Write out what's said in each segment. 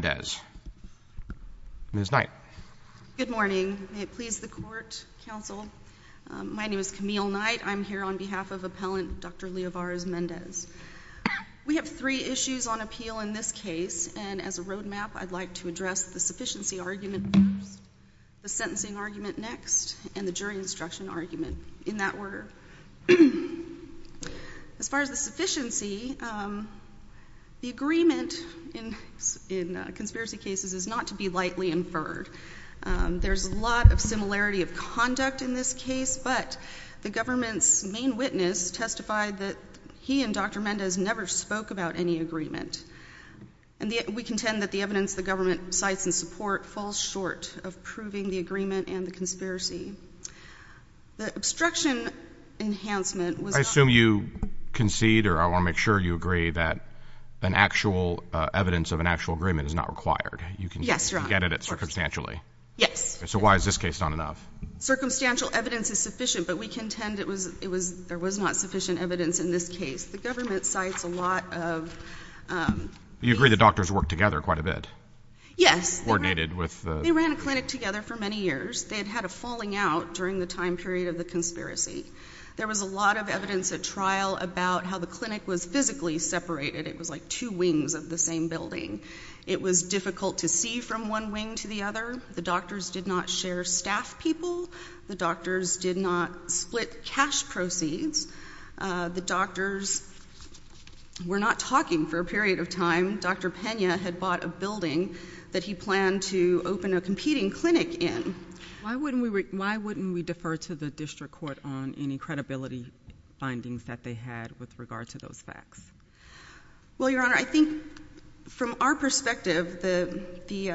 Ms. Knight. Good morning. May it please the Court, Counsel. My name is Camille Knight. I'm here on behalf of Appellant Dr. Leovarez-Mendez. We have three issues on appeal in this case, and as a roadmap, I'd like to address the sufficiency argument first, the sentencing argument next, and the jury instruction argument in that order. As far as the sufficiency, the agreement in conspiracy cases is not to be lightly inferred. There's a lot of similarity of conduct in this case, but the government's main witness testified that he and Dr. Mendez never spoke about any agreement, and we contend that the evidence the government cites in support falls short of proving the agreement and the conspiracy. The obstruction enhancement was not... I assume you concede, or I want to make sure you agree, that an actual evidence of an actual agreement is not required. Yes, Your Honor. You can get at it circumstantially. Yes. So why is this case not enough? Circumstantial evidence is sufficient, but we contend it was, it was, there was not sufficient evidence in this case. The government cites a lot of... You agree the doctors worked together quite a bit. Yes. Coordinated with... They ran a clinic together for many years. They had had a falling out during the time period of the conspiracy. There was a lot of evidence at trial about how the clinic was physically separated. It was like two wings of the same building. It was difficult to see from one wing to the other. The doctors did not share staff people. The doctors did not split cash proceeds. The doctors were not talking for a period of time. Dr. Pena had bought a building that he planned to open a competing clinic in. Why wouldn't we, why wouldn't we defer to the district court on any credibility findings that they had with regard to those facts? Well, Your Honor, I think from our perspective, the, the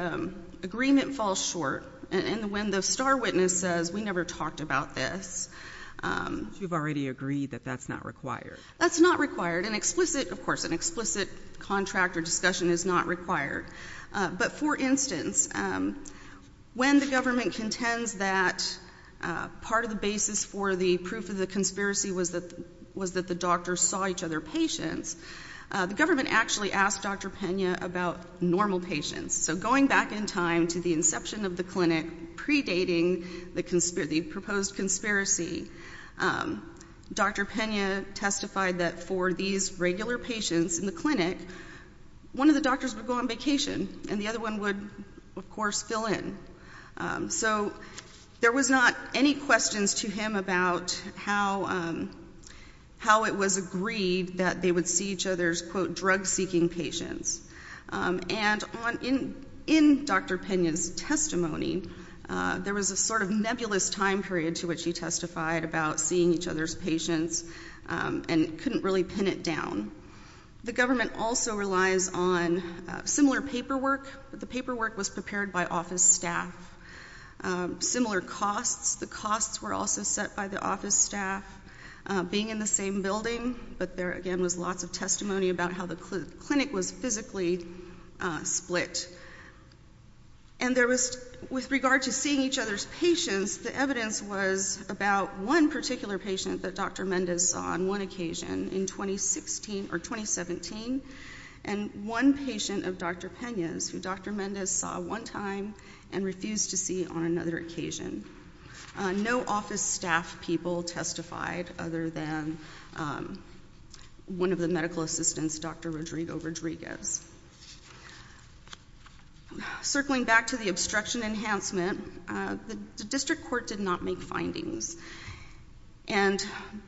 agreement falls short, and when the star witness says, we never talked about this... You've already agreed that that's not required. That's not required. An explicit contract or discussion is not required. But for instance, when the government contends that part of the basis for the proof of the conspiracy was that the doctors saw each other patients, the government actually asked Dr. Pena about normal patients. So going back in time to the inception of the clinic, predating the proposed conspiracy, Dr. Pena testified that for these regular patients in the clinic, one of the doctors would go on vacation and the other one would, of course, fill in. So there was not any questions to him about how, how it was agreed that they would see each other's, quote, drug-seeking patients. And on, in, in Dr. Pena's testimony, there was a sort of nebulous time period to which he testified about seeing each other's patients and couldn't really pin it down. The government also relies on similar paperwork. The paperwork was prepared by office staff. Similar costs, the costs were also set by the office staff. Being in the same building, but there again was lots of testimony about how the clinic was physically split. And there was, with regard to seeing each other's patients, the evidence was about one particular patient that Dr. Mendez saw on one occasion in 2016, or 2017, and one patient of Dr. Pena's who Dr. Mendez saw one time and refused to see on another occasion. No office staff people testified other than one of the medical assistants, Dr. Rodrigo Rodriguez. Circling back to the obstruction enhancement, the district court did not make findings. And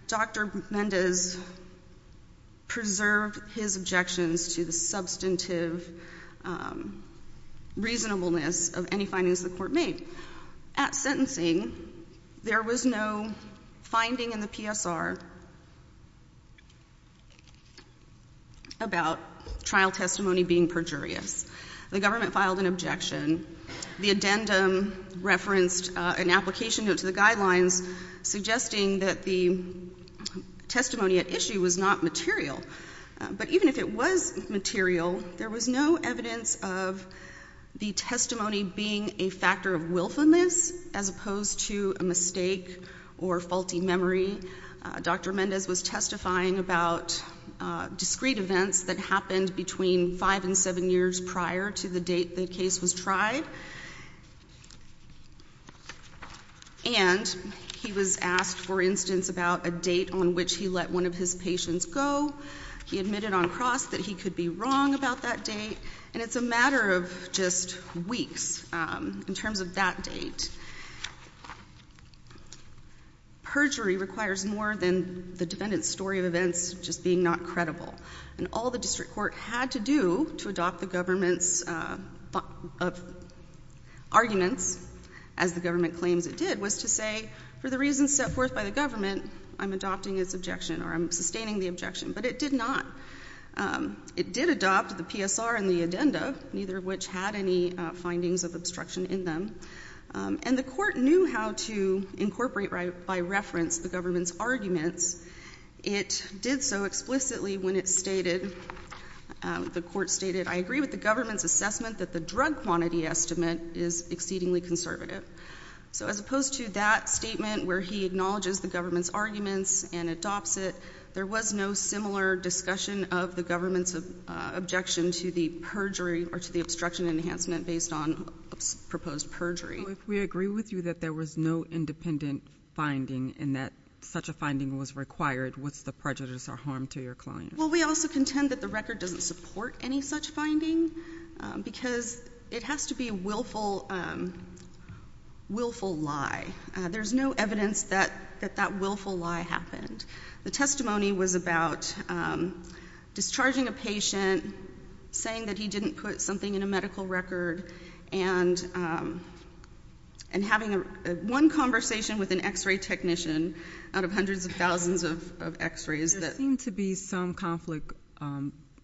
Dr. Mendez preserved his objections to the substantive reasonableness of any findings the court made. At sentencing, there was no finding in the PSR about trial testimony being perjurious. The government filed an objection. The addendum referenced an application note to the guidelines suggesting that the testimony at issue was not material. But even if it was material, there was no evidence of the testimony being a factor of Dr. Mendez was testifying about discrete events that happened between five and seven years prior to the date the case was tried. And he was asked, for instance, about a date on which he let one of his patients go. He admitted on cross that he could be wrong about that date. And it's a matter of just weeks in terms of that date. Perjury requires more than the defendant's story of events just being not credible. And all the district court had to do to adopt the government's arguments, as the government claims it did, was to say, for the reasons set forth by the government, I'm adopting its objection or I'm sustaining the objection. But it did not. It did adopt the PSR and the addendum, neither of which had any findings of obstruction in them. And the court knew how to incorporate by reference the government's arguments. It did so explicitly when it stated, the court stated, I agree with the government's assessment that the drug quantity estimate is exceedingly conservative. So as opposed to that statement where he acknowledges the government's arguments and adopts it, there was no similar discussion of the government's objection to the perjury or to the obstruction enhancement based on proposed perjury. So if we agree with you that there was no independent finding and that such a finding was required, what's the prejudice or harm to your client? Well, we also contend that the record doesn't support any such finding because it has to be a willful, willful lie. There's no evidence that that willful lie happened. The testimony was about discharging a patient, saying that he didn't put something in a medical record, and having one conversation with an x-ray technician out of hundreds of thousands of x-rays. There seemed to be some conflict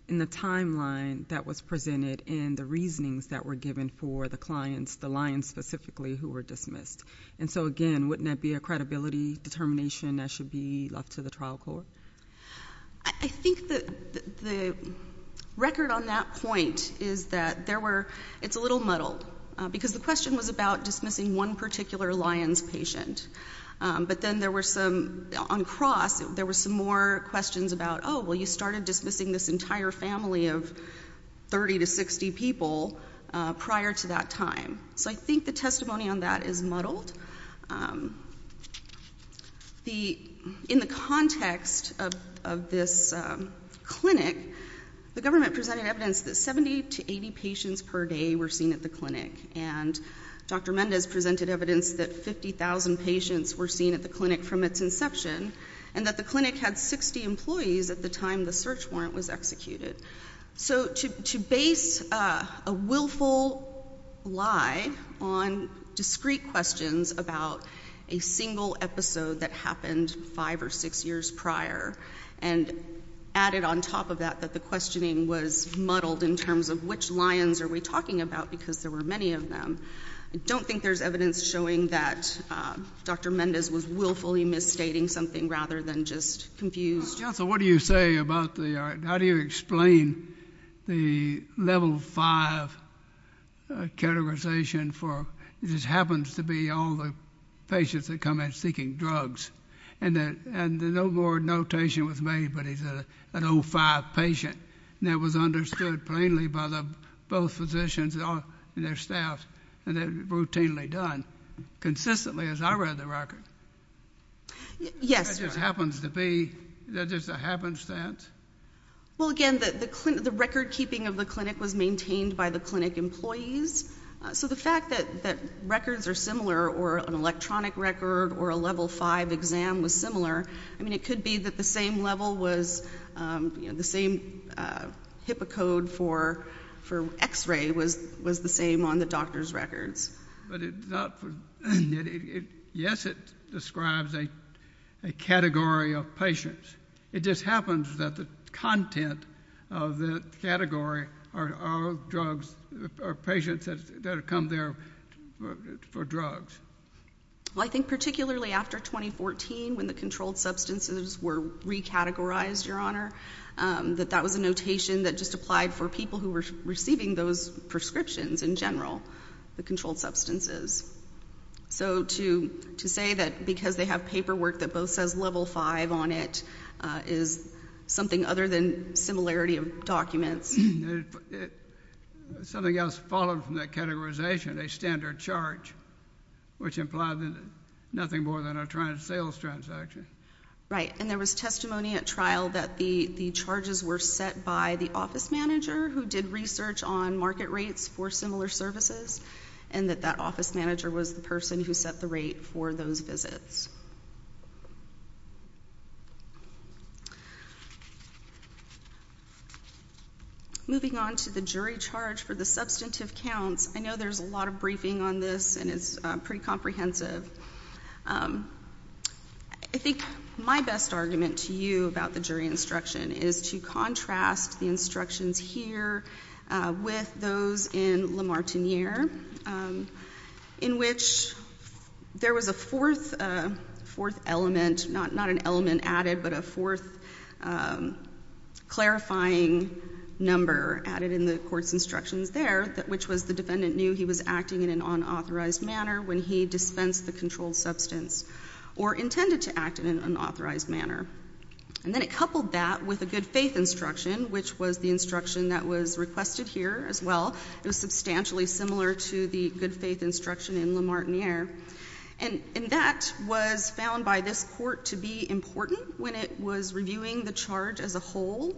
in the timeline that was presented in the reasonings that were given for the clients, the Lyons specifically, who were dismissed. And so again, wouldn't that be a credibility determination that should be left to the trial court? I think that the record on that point is that there were, it's a little muddled, because the question was about dismissing one particular Lyons patient. But then there were some, on cross, there were some more questions about, oh, well, you started dismissing this entire In the context of this clinic, the government presented evidence that 70 to 80 patients per day were seen at the clinic. And Dr. Mendez presented evidence that 50,000 patients were seen at the clinic from its inception, and that the clinic had 60 employees at the time the search warrant was a single episode that happened five or six years prior. And added on top of that, that the questioning was muddled in terms of which Lyons are we talking about, because there were many of them. I don't think there's evidence showing that Dr. Mendez was willfully misstating something rather than just confused. Counsel, what do you say about the, how do you explain the level five categorization for, it just happens to be all the patients that come in seeking drugs, and no more notation was made, but he's an O5 patient, and that was understood plainly by both physicians and their staff, and it was routinely done, consistently, as I read the record. Yes. It just happens to be, is that just a happenstance? Well, again, the record keeping of the clinic was maintained by the clinic employees, so the fact that records are similar, or an electronic record, or a level five exam was similar, I mean, it could be that the same level was, you know, the same HIPAA code for x-ray was the same on the doctor's records. But it's not, yes, it describes a category of patients. It just happens that the content of the category are drugs, are patients that have come there for drugs. Well, I think particularly after 2014, when the controlled substances were recategorized, Your Honor, that that was a notation that just applied for people who were receiving those prescriptions in general, the controlled substances. So to say that because they have paperwork that both says level five on it is something other than documents. Something else followed from that categorization, a standard charge, which implied nothing more than a sales transaction. Right. And there was testimony at trial that the charges were set by the office manager who did research on market rates for similar services, and that that office manager was the person who set the rate for those visits. Moving on to the jury charge for the substantive counts, I know there's a lot of briefing on this, and it's pretty comprehensive. I think my best argument to you about the jury instruction is to contrast the instructions here with those in Le Martiniere, in which there was a fourth element, not an element added, but a fourth clarifying number added in the court's instructions there, which was the defendant knew he was acting in an unauthorized manner when he dispensed the controlled substance or intended to act in an unauthorized manner. And then it coupled that with a good faith instruction, which was the instruction that was requested here as well. It was substantially similar to the good faith instruction in Le Martiniere. And that was found by this court to be important when it was reviewing the charge as a whole,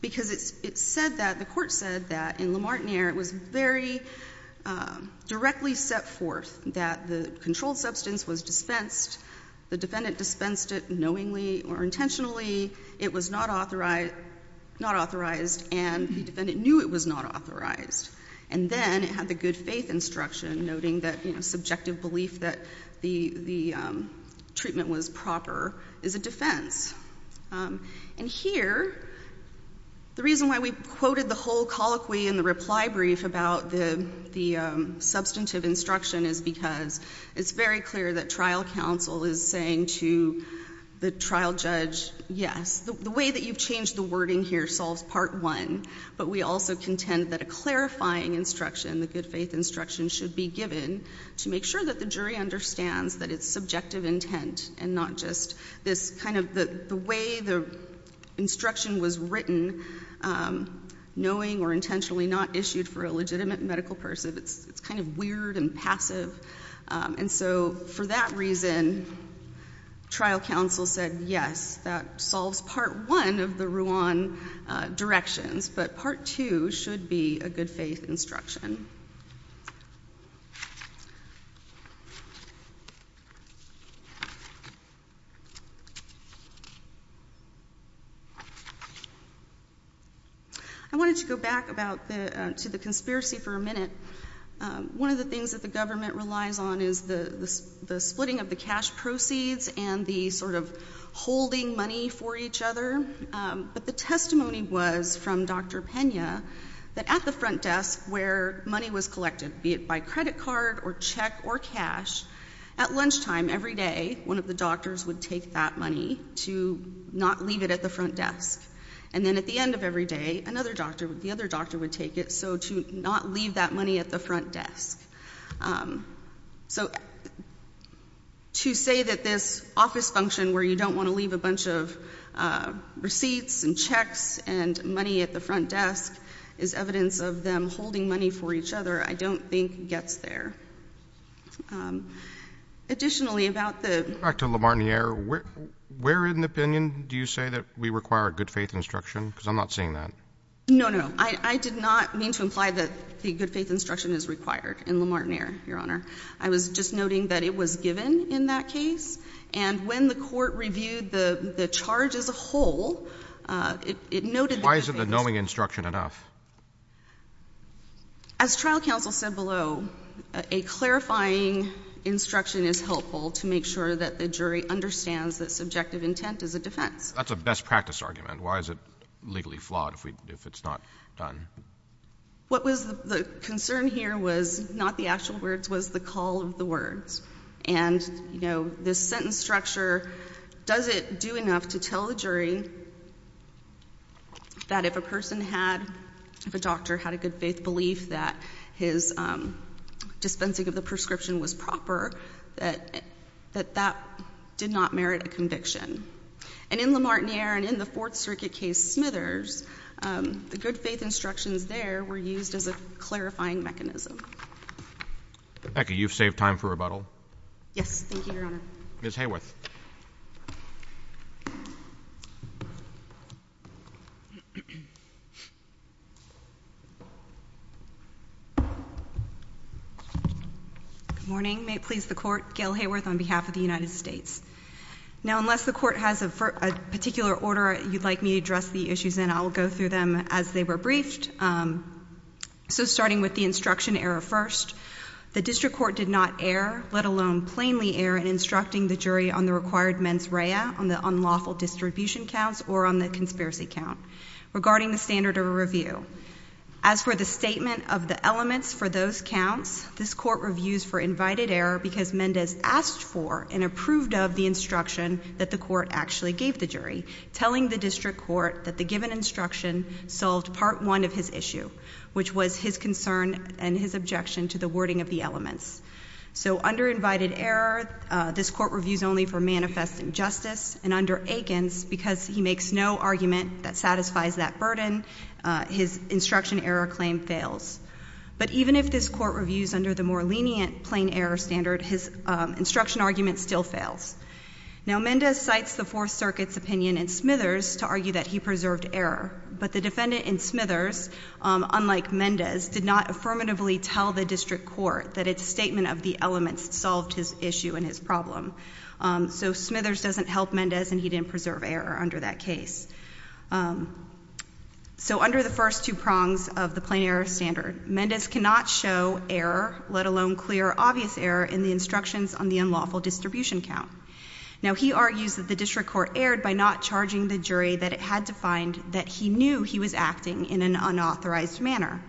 because it said that, the court said that, in Le Martiniere, it was very directly set forth that the controlled substance was dispensed, the defendant dispensed it knowingly or intentionally, it was not authorized, and the defendant knew it was not authorized. And then it had the good faith instruction noting that subjective belief that the treatment was proper is a defense. And here, the reason why we quoted the whole colloquy in the reply brief about the substantive instruction is because it's very clear that trial counsel is saying to the trial judge, yes, the way that you've changed the wording here solves part one, but we also contend that a clarifying instruction, the good faith instruction, should be given to make sure that the jury understands that it's subjective intent and not just this kind of, the way the instruction was written, knowing or intentionally not issued for a legitimate medical person. It's kind of weird and passive. And so for that reason, trial counsel said, yes, that solves part one of the Ruan directions, but part two should be a good faith instruction. I wanted to go back to the conspiracy for a minute. One of the things that the government relies on is the splitting of the cash proceeds and the sort of holding money for each other. But the testimony was from Dr. Pena that at the front desk where money was collected, be it by credit card or check or cash, at lunchtime every day, one of the doctors would take that money to not leave it at the front desk. And then at the end of every day, another doctor, the other doctor would take it. So to not leave that money at the front desk. So to say that this office function where you don't want to leave a bunch of receipts and checks and money at the front desk is evidence of them holding money for each other I don't think gets there. Additionally, about the- Back to Lamar Nier, where in the opinion do you say that we require a good faith instruction? Because I'm not seeing that. No, no. I did not mean to imply that the good faith instruction is required in Lamar Nier, Your Honor. I was just noting that it was given in that case. And when the court reviewed the charge as a whole, it noted- Why isn't the knowing instruction enough? As trial counsel said below, a clarifying instruction is helpful to make sure that the jury understands that subjective intent is a defense. That's a best practice argument. Why is it legally flawed if it's not done? What was the concern here was not the actual words, was the call of the words. And, you know, this sentence structure, does it do enough to tell the jury that if a person had, if a doctor had a good faith belief that his dispensing of the prescription was proper, that that did not merit a conviction? And in Lamar Nier and in the Fourth Circuit case Smithers, the good faith instructions there were used as a clarifying mechanism. Becky, you've saved time for rebuttal. Yes. Thank you, Your Honor. Ms. Hayworth. Good morning. May it please the Court, Gail Hayworth on behalf of the United States. Now, unless the Court has a particular order you'd like me to address the issues in, I will go through them as they were briefed. So starting with the instruction error first, the district court did not err, let alone plainly err in instructing the jury on the required mens rea, on the unlawful distribution counts or on the conspiracy count. Regarding the standard of a review, as for the statement of the elements for those counts, this court reviews for invited error because Mendez asked for and approved of the instruction that the court actually gave the jury, telling the district court that the given instruction solved part one of his issue, which was his concern and his objection to the wording of the elements. So under invited error, this court reviews only for manifest injustice, and under Aikens, because he makes no argument that satisfies that burden, his instruction error claim fails. But even if this court reviews under the more lenient plain error standard, his instruction argument still fails. Now, Mendez cites the Fourth Circuit's opinion in Smithers to argue that he preserved error, but the defendant in Smithers, unlike Mendez, did not affirmatively tell the district court that its statement of the elements solved his issue and his problem. So Smithers doesn't help Mendez, and he didn't preserve error under that case. So under the first two prongs of the plain error standard, Mendez cannot show error, let alone clear or obvious error, in the instructions on the unlawful distribution count. Now, he argues that the district court erred by not charging the jury that it had defined that he knew he was acting in an unauthorized manner.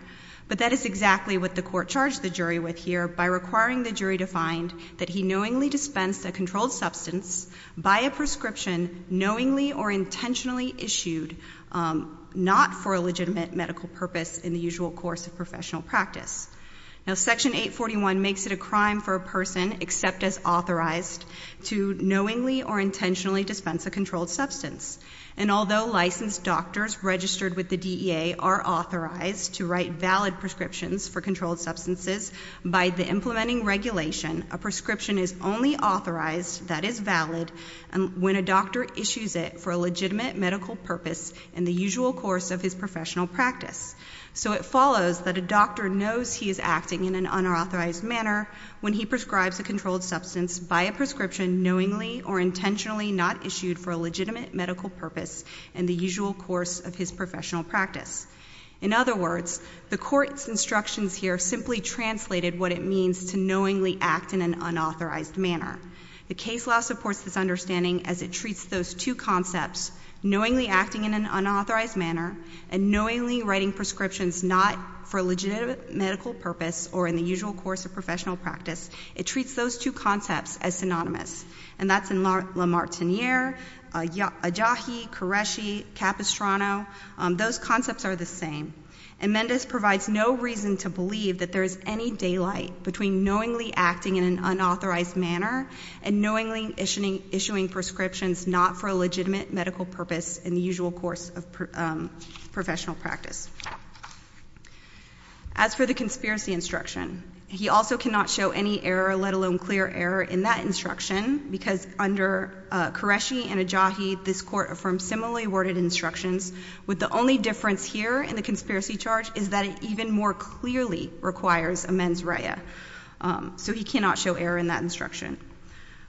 But that is exactly what the court charged the jury with here, by requiring the jury to find that he knowingly dispensed a controlled substance by a prescription knowingly or intentionally issued not for a legitimate medical purpose in the usual course of professional practice. Now, Section 841 makes it a crime for a person except as authorized to knowingly or intentionally dispense a controlled substance. And although licensed doctors registered with the DEA are authorized to write valid prescriptions for controlled substances, by the implementing regulation, a prescription is only authorized, that is valid, when a doctor issues it for a legitimate medical purpose in the usual course of his professional practice. So it follows that a doctor knows he is acting in an unauthorized manner when he prescribes a controlled substance by a prescription knowingly or intentionally not issued for a legitimate medical purpose in the usual course of his professional practice. In other words, the court's instructions here simply translated what it means to knowingly act in an unauthorized manner. The case law supports this understanding as it treats those two concepts, knowingly acting in an unauthorized manner and knowingly writing prescriptions not for a legitimate medical purpose or in the usual course of professional practice, it treats those two concepts as synonymous. And that's in La Martiniere, Ajahi, Qureshi, Capistrano. Those concepts are the same. Amendus provides no reason to believe that there is any daylight between knowingly acting in an unauthorized manner and knowingly issuing prescriptions not for a legitimate medical purpose in the usual course of professional practice. As for the conspiracy instruction, he also cannot show any error, let alone clear error in that instruction because under Qureshi and Ajahi, this court affirms similarly worded instructions with the only difference here in the conspiracy charge is that it even more clearly requires amends reia. So he cannot show error in that instruction,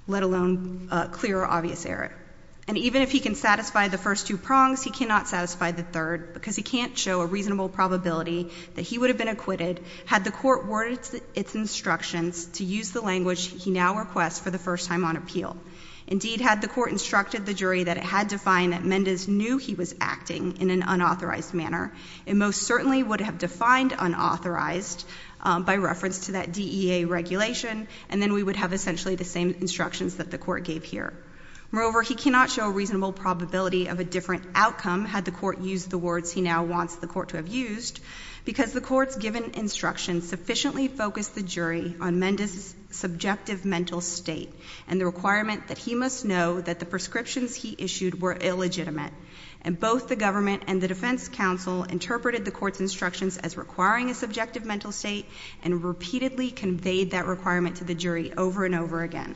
let alone clear or obvious error. And even if he can satisfy the first two prongs, he cannot satisfy the third because he can't show a reasonable probability that he would have been acquitted had the court worded its instructions to use the language he now requests for the first time on appeal. Indeed, had the court instructed the jury that it had to find that Amendus knew he was acting in an unauthorized manner, it most certainly would have defined unauthorized by reference to that DEA regulation, and then we would have essentially the same instructions that the court gave here. Moreover, he cannot show a reasonable probability of a different outcome had the court used the words he now wants the court to have used because the court's given instruction sufficiently focused the jury on Amendus' subjective mental state and the requirement that he must know that the prescriptions he issued were illegitimate. And both the government and the defense counsel interpreted the court's instructions as requiring a subjective mental state and repeatedly conveyed that requirement to the jury over and over again.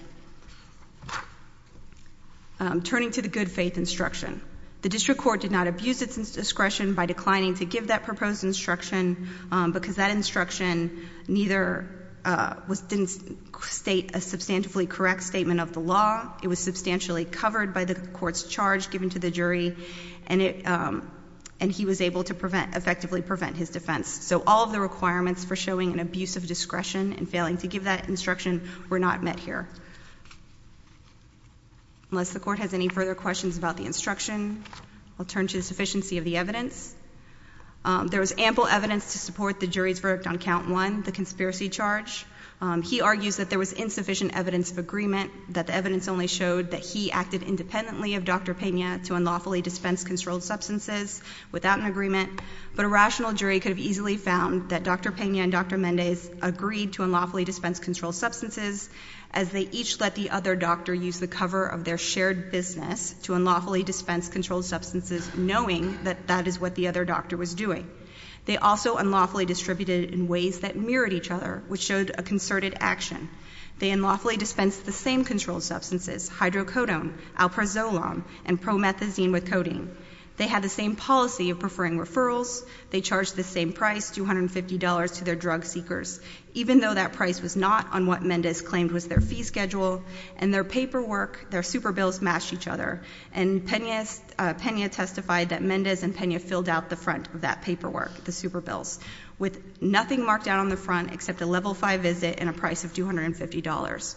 Turning to the good faith instruction, the district court did not abuse its discretion by declining to give that proposed instruction because that instruction neither didn't state a substantively correct statement of the law, it was substantially covered by the court's charge given to the jury, and he was able to effectively prevent his defense. So all of the requirements for showing an abuse of discretion and failing to give that instruction were not met here. Unless the court has any further questions about the instruction, I'll turn to the sufficiency of the evidence. There was ample evidence to support the jury's verdict on Count 1, the conspiracy charge. He argues that there was insufficient evidence of agreement, that the evidence only showed that he acted independently of Dr. Pena to unlawfully dispense controlled substances without an agreement, but a rational jury could have easily found that Dr. Pena and Dr. Mendez agreed to unlawfully dispense controlled substances as they each let the other doctor use the cover of their shared business to unlawfully dispense controlled substances knowing that that is what the other doctor was doing. They also unlawfully distributed it in ways that mirrored each other, which showed a concerted action. They unlawfully dispensed the same controlled substances, hydrocodone, alprazolam, and promethazine with codeine. They had the same policy of preferring referrals. They charged the same price, $250, to their drug seekers, even though that price was not on what Mendez claimed was their fee schedule, and their paperwork, their super bills matched each other. And Pena testified that Mendez and Pena filled out the front of that paperwork, the super bills, with nothing marked out on the front except a level 5 visit and a price of $250.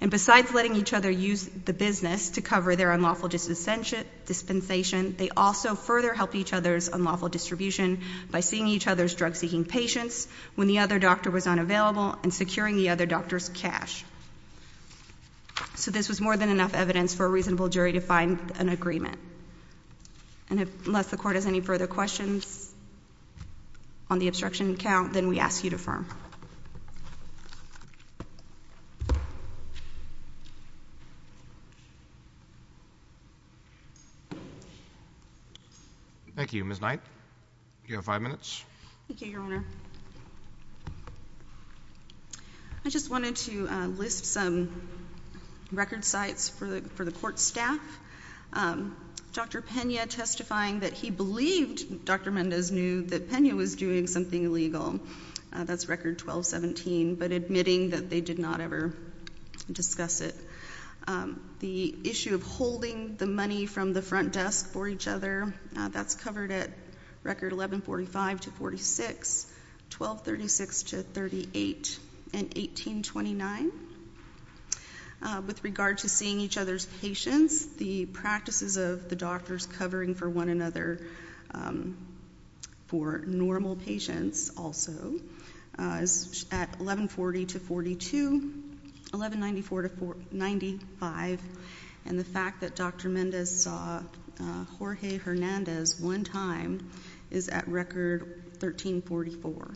And besides letting each other use the business to cover their unlawful dispensation, they also further helped each other's unlawful distribution by seeing each other's drug-seeking patients when the other doctor was unavailable and securing the other doctor's cash. So this was more than enough evidence for a reasonable jury to find an agreement. And unless the Court has any further questions on the obstruction count, then we ask you to affirm. Thank you. Ms. Knight, you have five minutes. Thank you, Your Honor. I just wanted to list some record sites for the Court staff. Dr. Pena testifying that he believed Dr. Mendez knew that Pena was doing something illegal. That's Record 1217, but admitting that they did not ever discuss it. The issue of holding the money from the front desk for each other, that's covered at Record 1145-46, 1236-38, and 1218-29. With regard to seeing each other's patients, the practices of the doctors covering for one another for normal patients also is at 1140-42, 1194-95, and the fact that Dr. Mendez saw Jorge Hernandez one time is at Record 1344.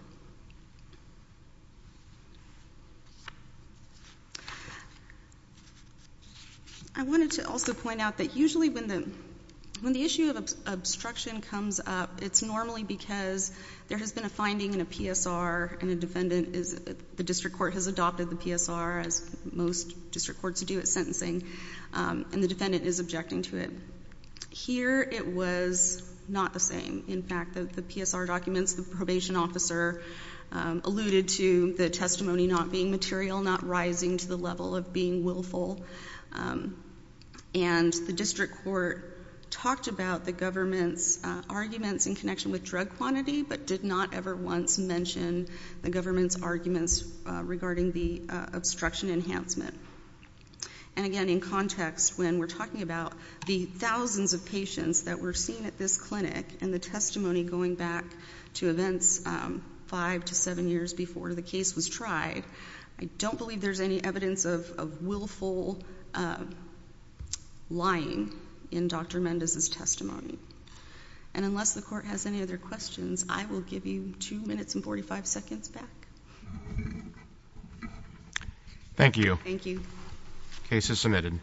I wanted to also point out that usually when the issue of obstruction comes up, it's normally because there has been a finding in a PSR and the district court has adopted the PSR as most district courts do at sentencing, and the defendant is objecting to it. Here, it was not the same. In fact, the PSR documents, the probation officer alluded to the testimony not being material, not rising to the level of being willful, and the district court talked about the government's arguments in connection with drug quantity, but did not ever once mention the government's arguments regarding the obstruction enhancement. And again, in context, when we're talking about the thousands of patients that were seen at this clinic, and the testimony going back to events five to seven years before the case was tried, I don't believe there's any evidence of willful lying in Dr. Mendez's testimony. And unless the court has any other questions, I will give you 2 minutes and 45 seconds back. Thank you. Case is submitted.